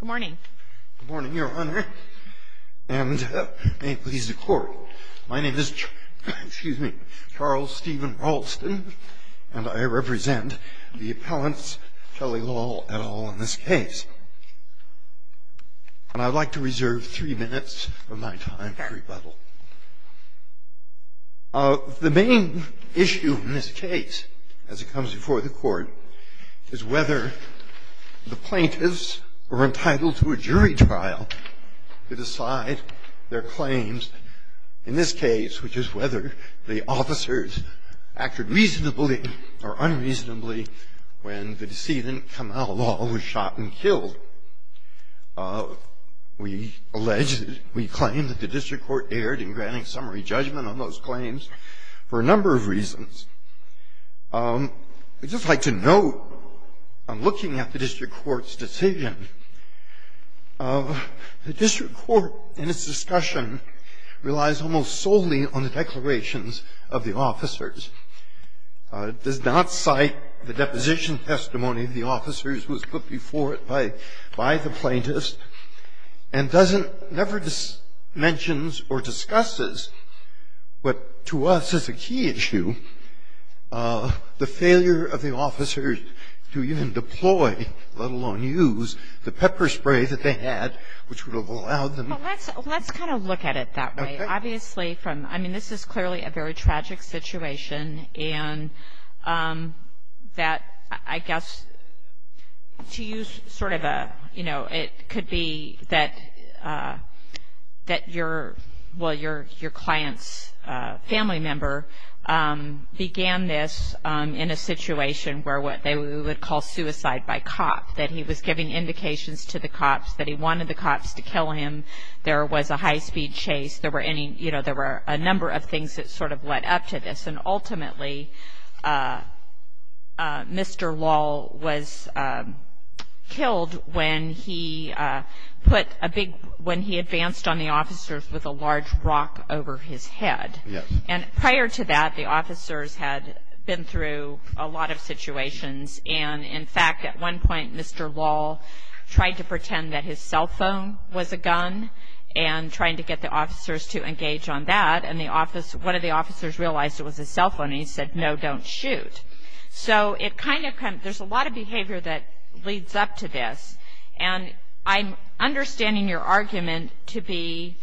Good morning. Good morning, Your Honor, and may it please the Court, my name is Charles Stephen Ralston, and I represent the appellants, Kelly Lal et al., in this case. And I'd like to reserve three minutes of my time for rebuttal. The main issue in this case, as it comes before the Court, is whether the plaintiffs were entitled to a jury trial to decide their claims, in this case, which is whether the officers acted reasonably or unreasonably when the decedent, Kamau Lal, was shot and killed. We allege, we claim that the District Court erred in granting summary judgment on those claims for a number of reasons. I'd just like to note, on looking at the District Court's decision, the District Court, in its discussion, relies almost solely on the declarations of the officers. It does not cite the deposition testimony of the officers who was put before it by the plaintiffs, and doesn't, never mentions or discusses, what to us is a key issue, the failure of the officers to even deploy, let alone use, the pepper spray that they had, which would have allowed them. Well, let's kind of look at it that way. Okay. Obviously, from, I mean, this is clearly a very tragic situation, and that, I guess, to use sort of a, you know, it could be that your, well, your client's family member began this in a situation where what they would call suicide by cop, that he was giving indications to the cops that he wanted the cops to kill him. There was a high-speed chase. There were any, you know, there were a number of things that sort of led up to this. And ultimately, Mr. Lall was killed when he put a big, when he advanced on the officers with a large rock over his head. Yes. And prior to that, the officers had been through a lot of situations. And, in fact, at one point, Mr. Lall tried to pretend that his cell phone was a gun and trying to get the officers to engage on that. And the office, one of the officers realized it was his cell phone, and he said, no, don't shoot. So it kind of, there's a lot of behavior that leads up to this. And I'm understanding your argument to be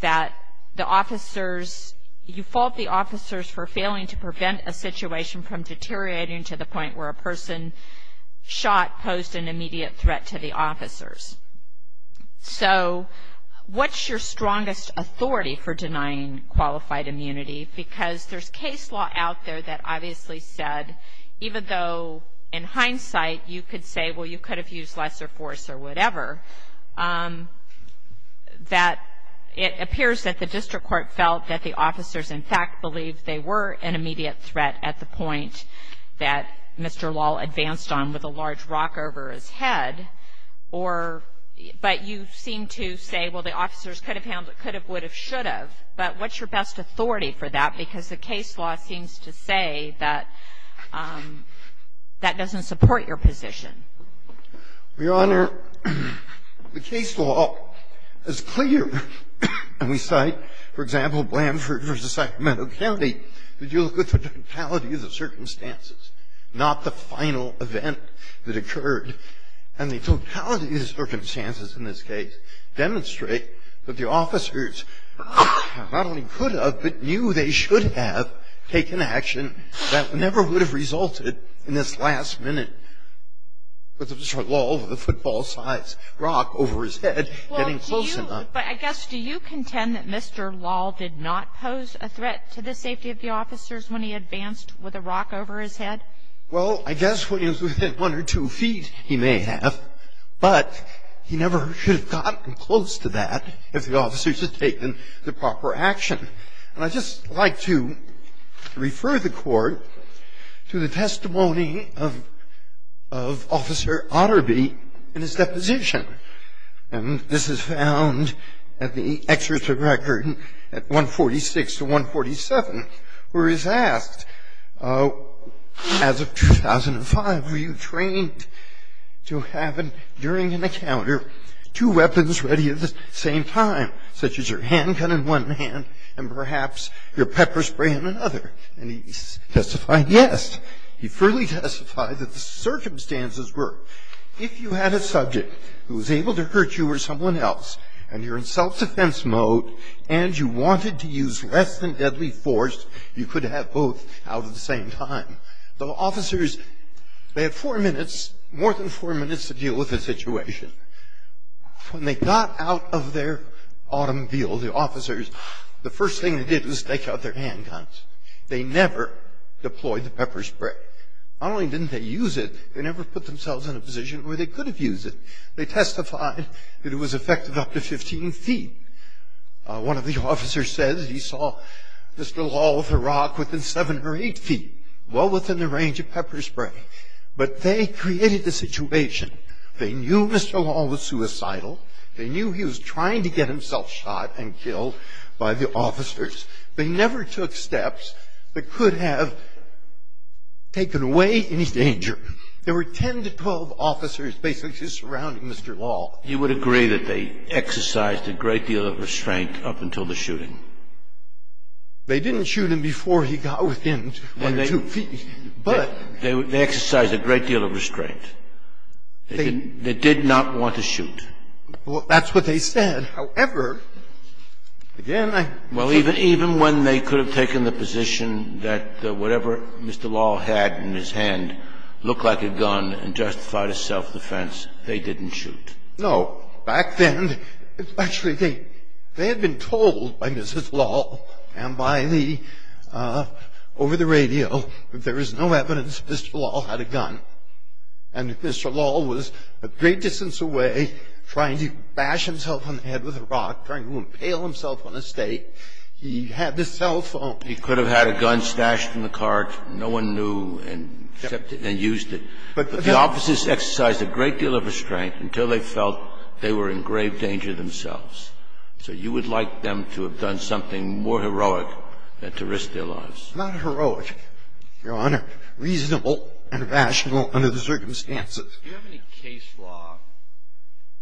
that the officers, you fault the officers for failing to prevent a situation from deteriorating to the point where a person shot posed an immediate threat to the officers. So what's your strongest authority for denying qualified immunity? Because there's case law out there that obviously said, even though in hindsight you could say, well, you could have used lesser force or whatever, that it appears that the district court felt that the officers, in fact, believed they were an immediate threat at the point that Mr. Lall advanced on with a large rock over his head. Or, but you seem to say, well, the officers could have handled it, could have, would have, should have. But what's your best authority for that? Because the case law seems to say that that doesn't support your position. Your Honor, the case law is clear. And we cite, for example, Blanford versus Sacramento County, that you look at the totality of the circumstances, not the final event that occurred. And the totality of the circumstances in this case demonstrate that the officers not only could have, but knew they should have taken action that never would have resulted in this last minute, with Mr. Lall with a football-sized rock over his head getting close enough. But I guess, do you contend that Mr. Lall did not pose a threat to the safety of the officers when he advanced with a rock over his head? Well, I guess when he was within one or two feet, he may have. But he never should have gotten close to that if the officers had taken the proper action. And I'd just like to refer the Court to the testimony of Officer Otterby in his deposition. And this is found at the excerpt of record at 146 to 147, where he's asked, as of 2005, were you trained to have, during an encounter, two weapons ready at the same time, such as your handgun in one hand and perhaps your pepper spray in another? And he testified yes. He fully testified that the circumstances were, if you had a subject who was able to hurt you or someone else, and you're in self-defense mode, and you wanted to use less than deadly force, you could have both out at the same time. The officers, they had four minutes, more than four minutes, to deal with the situation. When they got out of their automobile, the officers, the first thing they did was take out their handguns. They never deployed the pepper spray. Not only didn't they use it, they never put themselves in a position where they could have used it. They testified that it was effective up to 15 feet. One of the officers says he saw Mr. Lawl with a rock within seven or eight feet, well within the range of pepper spray. But they created the situation. They knew Mr. Lawl was suicidal. They knew he was trying to get himself shot and killed by the officers. They never took steps that could have taken away any danger. There were 10 to 12 officers basically just surrounding Mr. Lawl. You would agree that they exercised a great deal of restraint up until the shooting? They didn't shoot him before he got within one or two feet, but. They exercised a great deal of restraint. They did not want to shoot. Well, that's what they said. However, again, I. Well, even when they could have taken the position that whatever Mr. Lawl had in his hand looked like a gun and justified his self-defense, they didn't shoot. No. Back then, actually, they had been told by Mrs. Lawl and by the, over the radio, that there is no evidence that Mr. Lawl had a gun. And Mr. Lawl was a great distance away trying to bash himself on the head with a rock, trying to impale himself on a stake. He had this cell phone. He could have had a gun stashed in the cart. No one knew and used it. But the officers exercised a great deal of restraint until they felt they were in grave danger themselves. So you would like them to have done something more heroic than to risk their lives. Not heroic, Your Honor. Reasonable and rational under the circumstances. Do you have any case law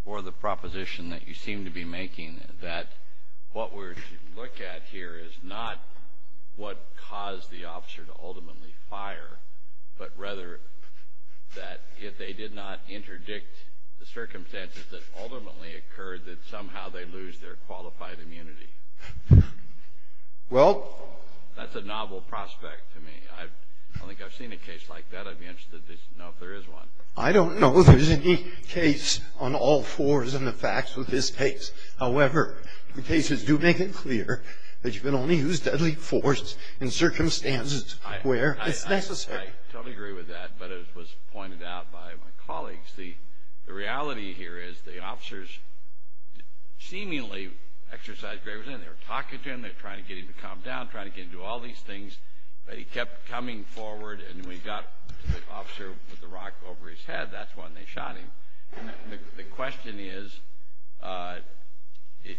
or the proposition that you seem to be making that what we're looking at here is not what caused the officer to ultimately fire, but rather that if they did not interdict the circumstances that ultimately occurred, that somehow they lose their qualified immunity? Well. That's a novel prospect to me. I don't think I've seen a case like that. I'd be interested to know if there is one. I don't know if there's any case on all fours in the facts with this case. However, the cases do make it clear that you can only use deadly force in circumstances where it's necessary. I totally agree with that, but as was pointed out by my colleagues, the reality here is the officers seemingly exercised great restraint. They were talking to him. They were trying to get him to calm down, trying to get him to do all these things. But he kept coming forward, and when he got the officer with the rock over his head, that's when they shot him. The question is,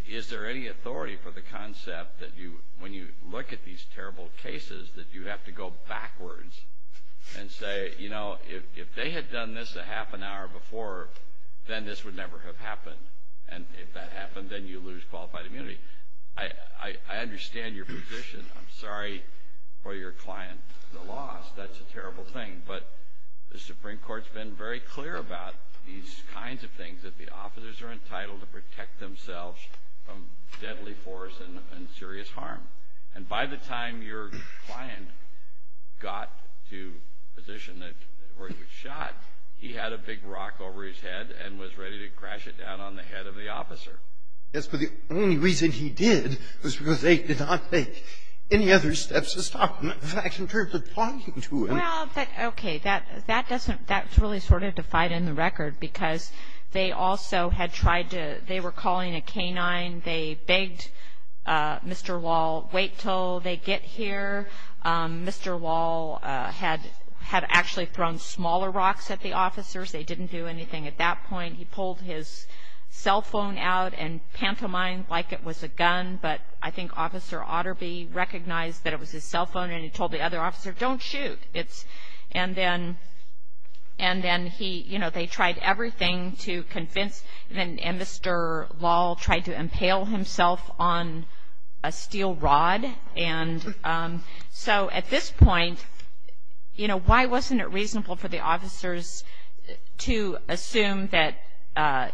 is there any authority for the concept that when you look at these terrible cases, that you have to go backwards and say, you know, if they had done this a half an hour before, then this would never have happened, and if that happened, then you lose qualified immunity. I understand your position. I'm sorry for your client, the loss. That's a terrible thing. But the Supreme Court's been very clear about these kinds of things, that the officers are entitled to protect themselves from deadly force and serious harm. And by the time your client got to a position where he was shot, he had a big rock over his head and was ready to crash it down on the head of the officer. Yes, but the only reason he did was because they did not take any other steps to stop him, in fact, in terms of talking to him. Well, okay, that doesn't – that's really sort of defied in the record, because they also had tried to – they were calling a canine. They begged Mr. Wall, wait until they get here. Mr. Wall had actually thrown smaller rocks at the officers. They didn't do anything at that point. He pulled his cell phone out and pantomimed like it was a gun, but I think Officer Otterby recognized that it was his cell phone, and he told the other officer, don't shoot. And then he – you know, they tried everything to convince – and Mr. Wall tried to impale himself on a steel rod. And so at this point, you know, why wasn't it reasonable for the officers to assume that,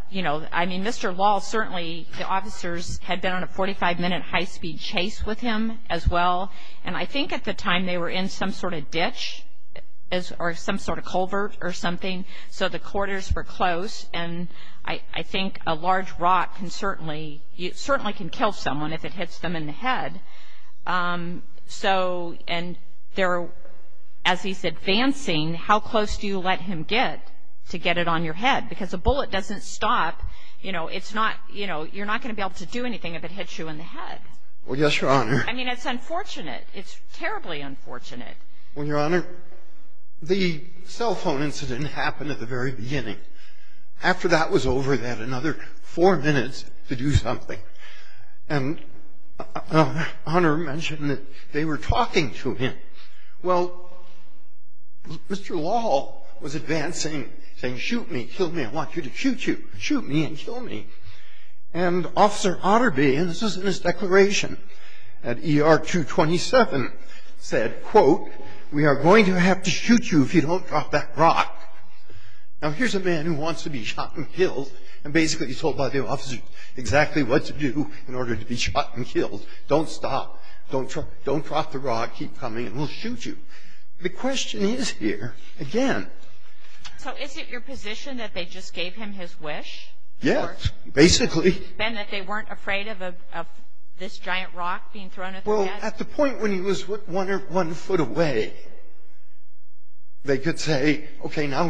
you know – I mean, Mr. Wall, certainly the officers had been on a 45-minute high-speed chase with him as well. And I think at the time they were in some sort of ditch or some sort of culvert or something, so the quarters were close, and I think a large rock can certainly – it certainly can kill someone if it hits them in the head. So – and they're – as he's advancing, how close do you let him get to get it on your head? Because a bullet doesn't stop. You know, it's not – you know, you're not going to be able to do anything if it hits you in the head. Well, yes, Your Honor. I mean, it's unfortunate. It's terribly unfortunate. Well, Your Honor, the cell phone incident happened at the very beginning. After that was over, they had another four minutes to do something. And Honor mentioned that they were talking to him. Well, Mr. Wall was advancing, saying, shoot me, kill me, I want you to shoot you. Shoot me and kill me. And Officer Otterby, and this was in his declaration at ER 227, said, quote, we are going to have to shoot you if you don't drop that rock. Now, here's a man who wants to be shot and killed, and basically he's told by the officer exactly what to do in order to be shot and killed. Don't stop. Don't drop the rock. Keep coming, and we'll shoot you. The question is here, again. So is it your position that they just gave him his wish? Yes, basically. And that they weren't afraid of this giant rock being thrown at them? Well, at the point when he was one foot away, they could say, okay, now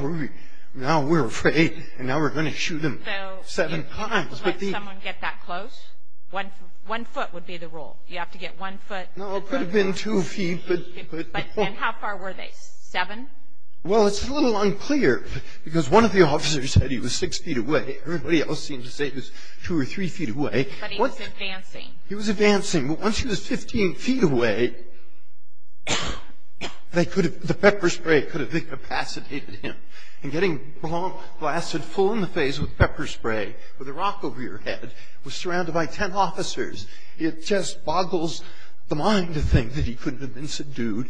we're afraid, and now we're going to shoot him seven times. So you can't let someone get that close? One foot would be the rule. You have to get one foot. No, it could have been two feet. And how far were they, seven? Well, it's a little unclear, because one of the officers said he was six feet away. Everybody else seemed to say he was two or three feet away. But he was advancing. He was advancing. Once he was 15 feet away, the pepper spray could have incapacitated him. And getting blasted full in the face with pepper spray with a rock over your head was surrounded by ten officers. It just boggles the mind to think that he could have been subdued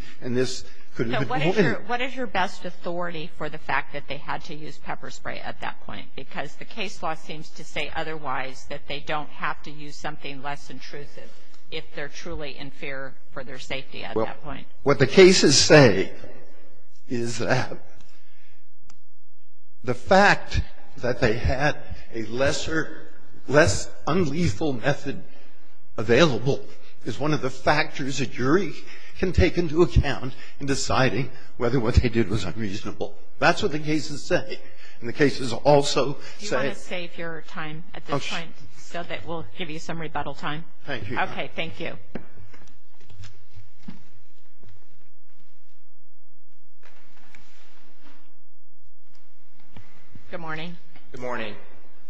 What is your best authority for the fact that they had to use pepper spray at that point? Because the case law seems to say otherwise, that they don't have to use something less intrusive if they're truly in fear for their safety at that point. Well, what the cases say is that the fact that they had a less unlethal method available is one of the factors a jury can take into account in deciding whether what they did was unreasonable. That's what the cases say. And the cases also say Do you want to save your time at this point so that we'll give you some rebuttal time? Thank you. Okay, thank you. Good morning. Good morning.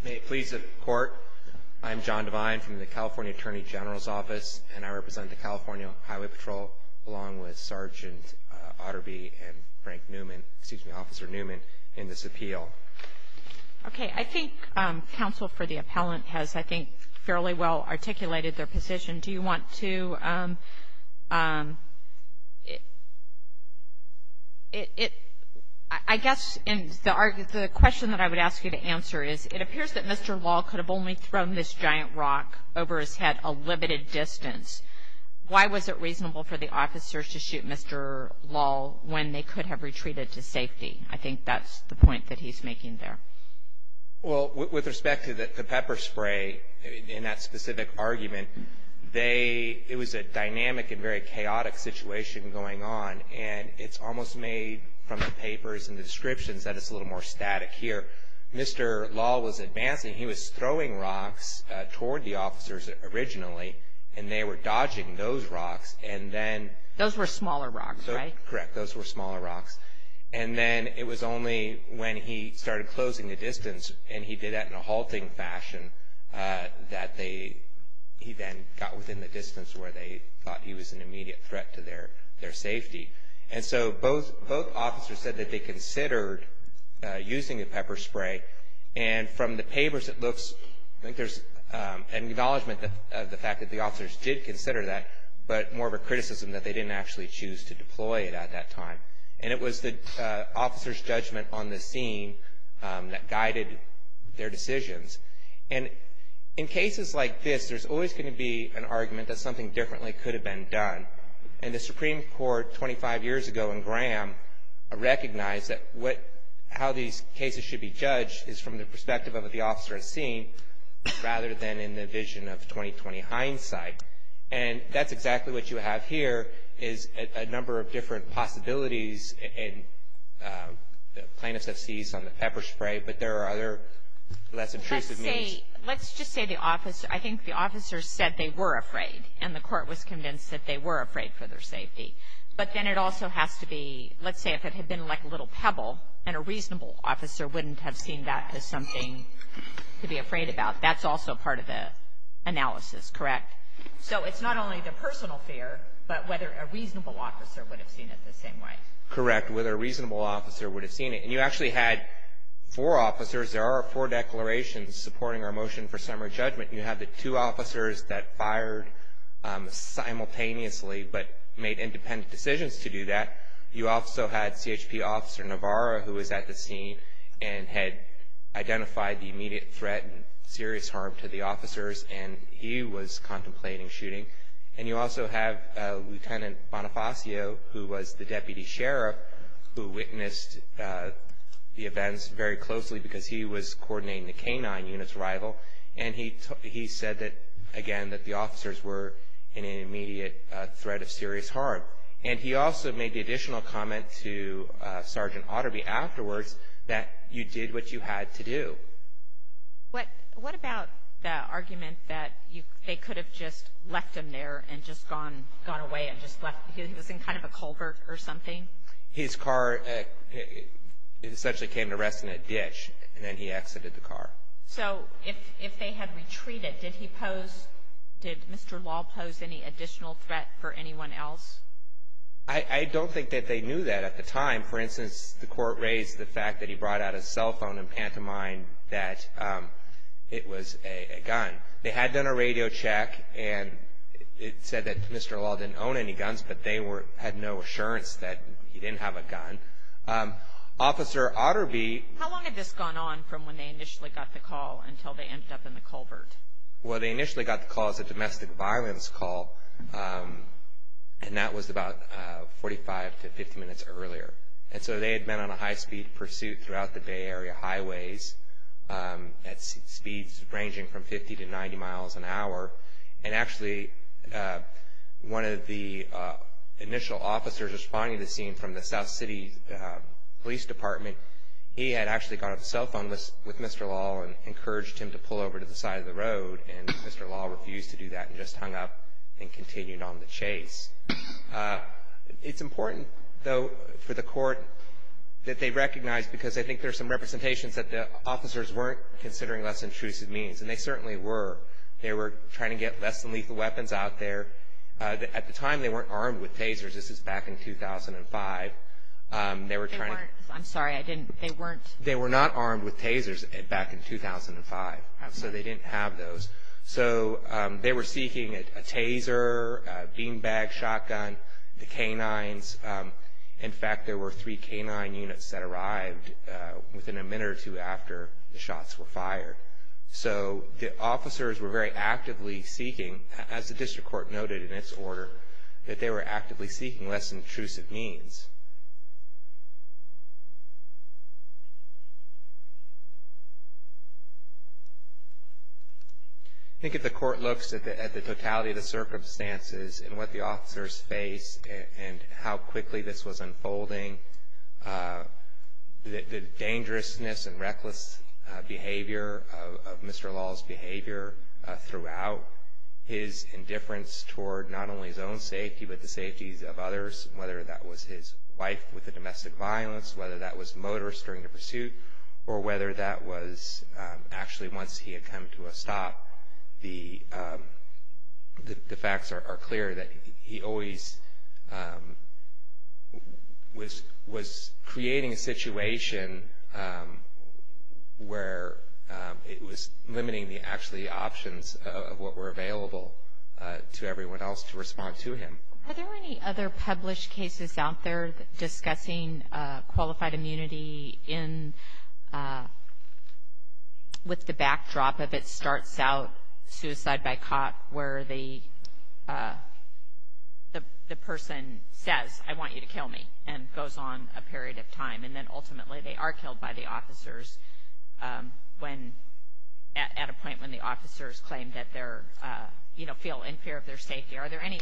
May it please the Court, I'm John Devine from the California Attorney General's Office, and I represent the California Highway Patrol along with Sergeant Otterby and Frank Newman, excuse me, Officer Newman, in this appeal. Okay. I think counsel for the appellant has, I think, fairly well articulated their position. Do you want to – I guess the question that I would ask you to answer is it appears that Mr. Law could have only thrown this giant rock over his head a limited distance. Why was it reasonable for the officers to shoot Mr. Law when they could have retreated to safety? I think that's the point that he's making there. Well, with respect to the pepper spray in that specific argument, it was a dynamic and very chaotic situation going on, and it's almost made from the papers and the descriptions that it's a little more static here. Mr. Law was advancing. He was throwing rocks toward the officers originally, and they were dodging those rocks, and then – Those were smaller rocks, right? Correct. Those were smaller rocks. And then it was only when he started closing the distance, and he did that in a halting fashion, that he then got within the distance where they thought he was an immediate threat to their safety. And so both officers said that they considered using a pepper spray, and from the papers it looks like there's an acknowledgment of the fact that the officers did consider that, but more of a criticism that they didn't actually choose to deploy it at that time. And it was the officers' judgment on the scene that guided their decisions. And in cases like this, there's always going to be an argument that something differently could have been done. And the Supreme Court 25 years ago in Graham recognized that how these cases should be judged is from the perspective of what the officer has seen rather than in the vision of 2020 hindsight. And that's exactly what you have here is a number of different possibilities, and plaintiffs have seized on the pepper spray, but there are other less intrusive means. Let's just say the officer – I think the officer said they were afraid, and the court was convinced that they were afraid for their safety. But then it also has to be – let's say if it had been like a little pebble, and a reasonable officer wouldn't have seen that as something to be afraid about. That's also part of the analysis, correct? So it's not only the personal fear, but whether a reasonable officer would have seen it the same way. Correct, whether a reasonable officer would have seen it. And you actually had four officers. There are four declarations supporting our motion for summary judgment. You have the two officers that fired simultaneously but made independent decisions to do that. You also had CHP Officer Navarro, who was at the scene and had identified the immediate threat and serious harm to the officers, and he was contemplating shooting. And you also have Lieutenant Bonifacio, who was the deputy sheriff, who witnessed the events very closely because he was coordinating the K-9 unit's arrival, and he said that, again, that the officers were in an immediate threat of serious harm. And he also made the additional comment to Sergeant Otterby afterwards that you did what you had to do. What about the argument that they could have just left him there and just gone away and just left – he was in kind of a culvert or something? His car essentially came to rest in a ditch, and then he exited the car. So if they had retreated, did he pose – did Mr. Law pose any additional threat for anyone else? I don't think that they knew that at the time. For instance, the court raised the fact that he brought out his cell phone and pantomimed that it was a gun. They had done a radio check, and it said that Mr. Law didn't own any guns, but they had no assurance that he didn't have a gun. Officer Otterby – How long had this gone on from when they initially got the call until they ended up in the culvert? Well, they initially got the call as a domestic violence call, and that was about 45 to 50 minutes earlier. And so they had been on a high-speed pursuit throughout the Bay Area highways at speeds ranging from 50 to 90 miles an hour. And actually, one of the initial officers responding to the scene from the South City Police Department, he had actually got on the cell phone with Mr. Law and encouraged him to pull over to the side of the road, and Mr. Law refused to do that and just hung up and continued on the chase. It's important, though, for the court that they recognize, because I think there's some representations that the officers weren't considering less intrusive means, and they certainly were. They were trying to get less than lethal weapons out there. At the time, they weren't armed with tasers. This is back in 2005. They were trying to – I'm sorry, I didn't – they weren't – They were not armed with tasers back in 2005, so they didn't have those. So they were seeking a taser, a beanbag shotgun, the canines. In fact, there were three canine units that arrived within a minute or two after the shots were fired. So the officers were very actively seeking, as the district court noted in its order, that they were actively seeking less intrusive means. I think if the court looks at the totality of the circumstances and what the officers faced and how quickly this was unfolding, the dangerousness and reckless behavior of Mr. Law's behavior throughout, his indifference toward not only his own safety but the safeties of others, whether that was his wife with the domestic violence, whether that was motorists during the pursuit, or whether that was actually once he had come to a stop, the facts are clear that he always was creating a situation where it was limiting the actually options of what were available to everyone else to respond to him. Are there any other published cases out there discussing qualified immunity with the backdrop of it starts out, suicide by caught, where the person says, I want you to kill me, and goes on a period of time. And then ultimately they are killed by the officers at a point when the officers claim that they're, you know, feel in fear of their safety. Are there any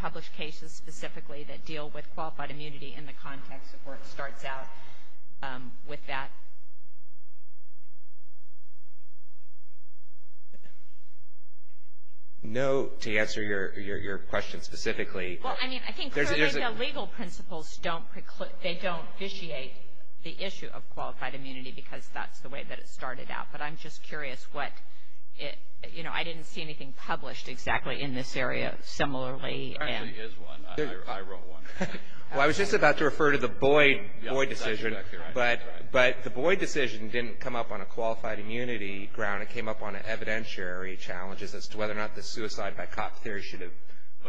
published cases specifically that deal with qualified immunity in the context of where it starts out with that? No, to answer your question specifically. Well, I mean, I think clearly the legal principles don't preclude, they don't vitiate the issue of qualified immunity because that's the way that it started out. But I'm just curious what, you know, I didn't see anything published exactly in this area similarly. There actually is one. I wrote one. Well, I was just about to refer to the Boyd decision. But the Boyd decision didn't come up on a qualified immunity ground. It came up on evidentiary challenges as to whether or not the suicide by cop theory should have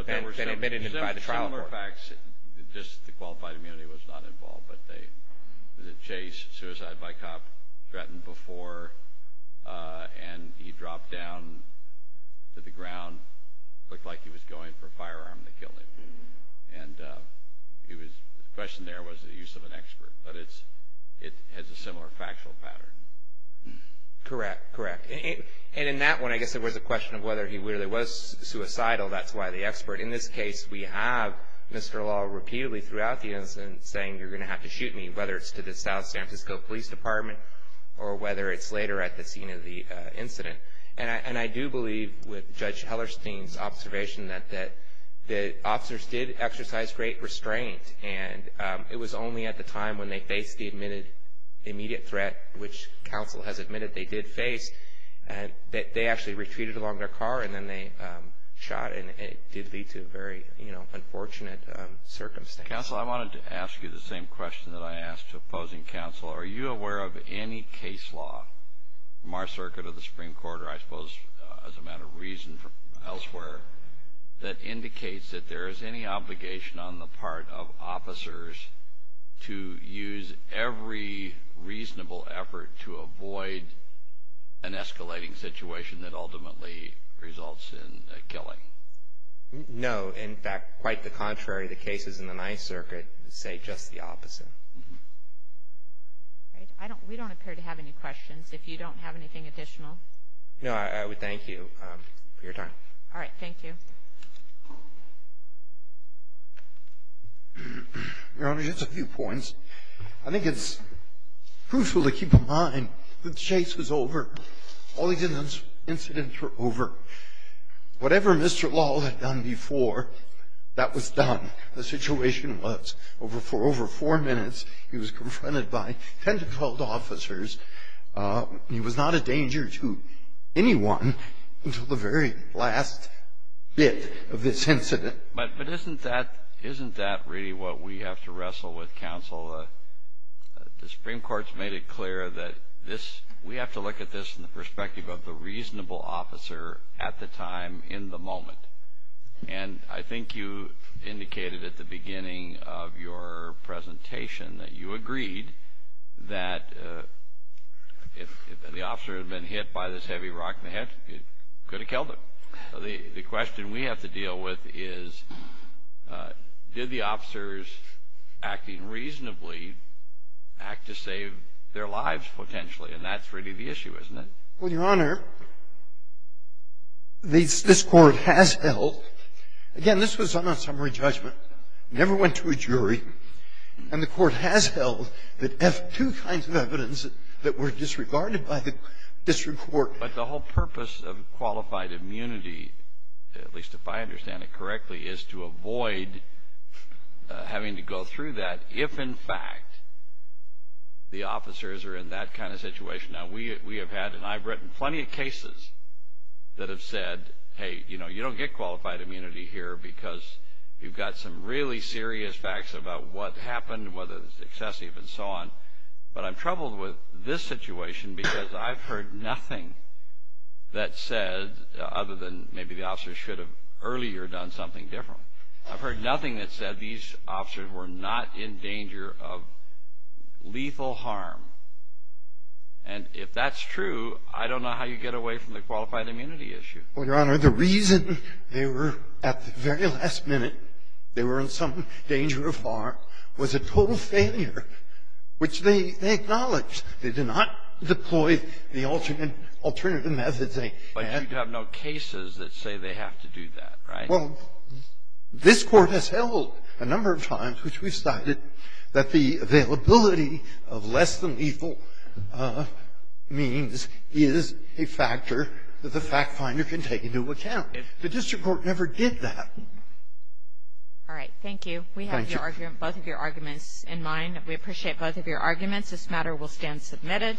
been admitted by the trial court. Similar facts, just the qualified immunity was not involved. But the chase, suicide by cop, threatened before, and he dropped down to the ground, looked like he was going for a firearm to kill him. And the question there was the use of an expert. But it has a similar factual pattern. Correct, correct. And in that one, I guess there was a question of whether he really was suicidal. That's why the expert. In this case, we have Mr. Law repeatedly throughout the incident saying you're going to have to shoot me, whether it's to the South San Francisco Police Department or whether it's later at the scene of the incident. And I do believe with Judge Hellerstein's observation that the officers did exercise great restraint. And it was only at the time when they faced the immediate threat, which counsel has admitted they did face, that they actually retreated along their car and then they shot. And it did lead to a very, you know, unfortunate circumstance. Counsel, I wanted to ask you the same question that I asked opposing counsel. Are you aware of any case law from our circuit of the Supreme Court, or I suppose as a matter of reason elsewhere, that indicates that there is any obligation on the part of officers to use every reasonable effort to avoid an escalating situation that ultimately results in a killing? No. In fact, quite the contrary. The cases in the Ninth Circuit say just the opposite. We don't appear to have any questions. If you don't have anything additional. No, I would thank you for your time. All right. Thank you. Your Honor, just a few points. I think it's crucial to keep in mind that the chase was over. All these incidents were over. Whatever Mr. Law had done before, that was done. The situation was, for over four minutes, he was confronted by 10 to 12 officers. He was not a danger to anyone until the very last bit of this incident. But isn't that really what we have to wrestle with, counsel? The Supreme Court's made it clear that we have to look at this in the perspective of the reasonable officer at the time in the moment. And I think you indicated at the beginning of your presentation that you agreed that if the officer had been hit by this heavy rock in the head, it could have killed him. The question we have to deal with is, did the officers acting reasonably act to save their lives, potentially? And that's really the issue, isn't it? Well, Your Honor, this Court has held, again, this was on a summary judgment. It never went to a jury. And the Court has held that two kinds of evidence that were disregarded by the district court. But the whole purpose of qualified immunity, at least if I understand it correctly, is to avoid having to go through that if, in fact, the officers are in that kind of situation. Now, we have had, and I've written plenty of cases that have said, hey, you know, you don't get qualified immunity here because you've got some really serious facts about what happened, whether it's excessive and so on. But I'm troubled with this situation because I've heard nothing that said, other than maybe the officers should have earlier done something different. I've heard nothing that said these officers were not in danger of lethal harm. And if that's true, I don't know how you get away from the qualified immunity issue. Well, Your Honor, the reason they were, at the very last minute, they were in some danger of harm, was a total failure, which they acknowledged. They did not deploy the alternative methods. But you have no cases that say they have to do that, right? Well, this Court has held a number of times, which we've cited, that the availability of less than lethal means is a factor that the fact finder can take into account. The district court never did that. All right. Thank you. Thank you. We have both of your arguments in mind. We appreciate both of your arguments. This matter will stand submitted.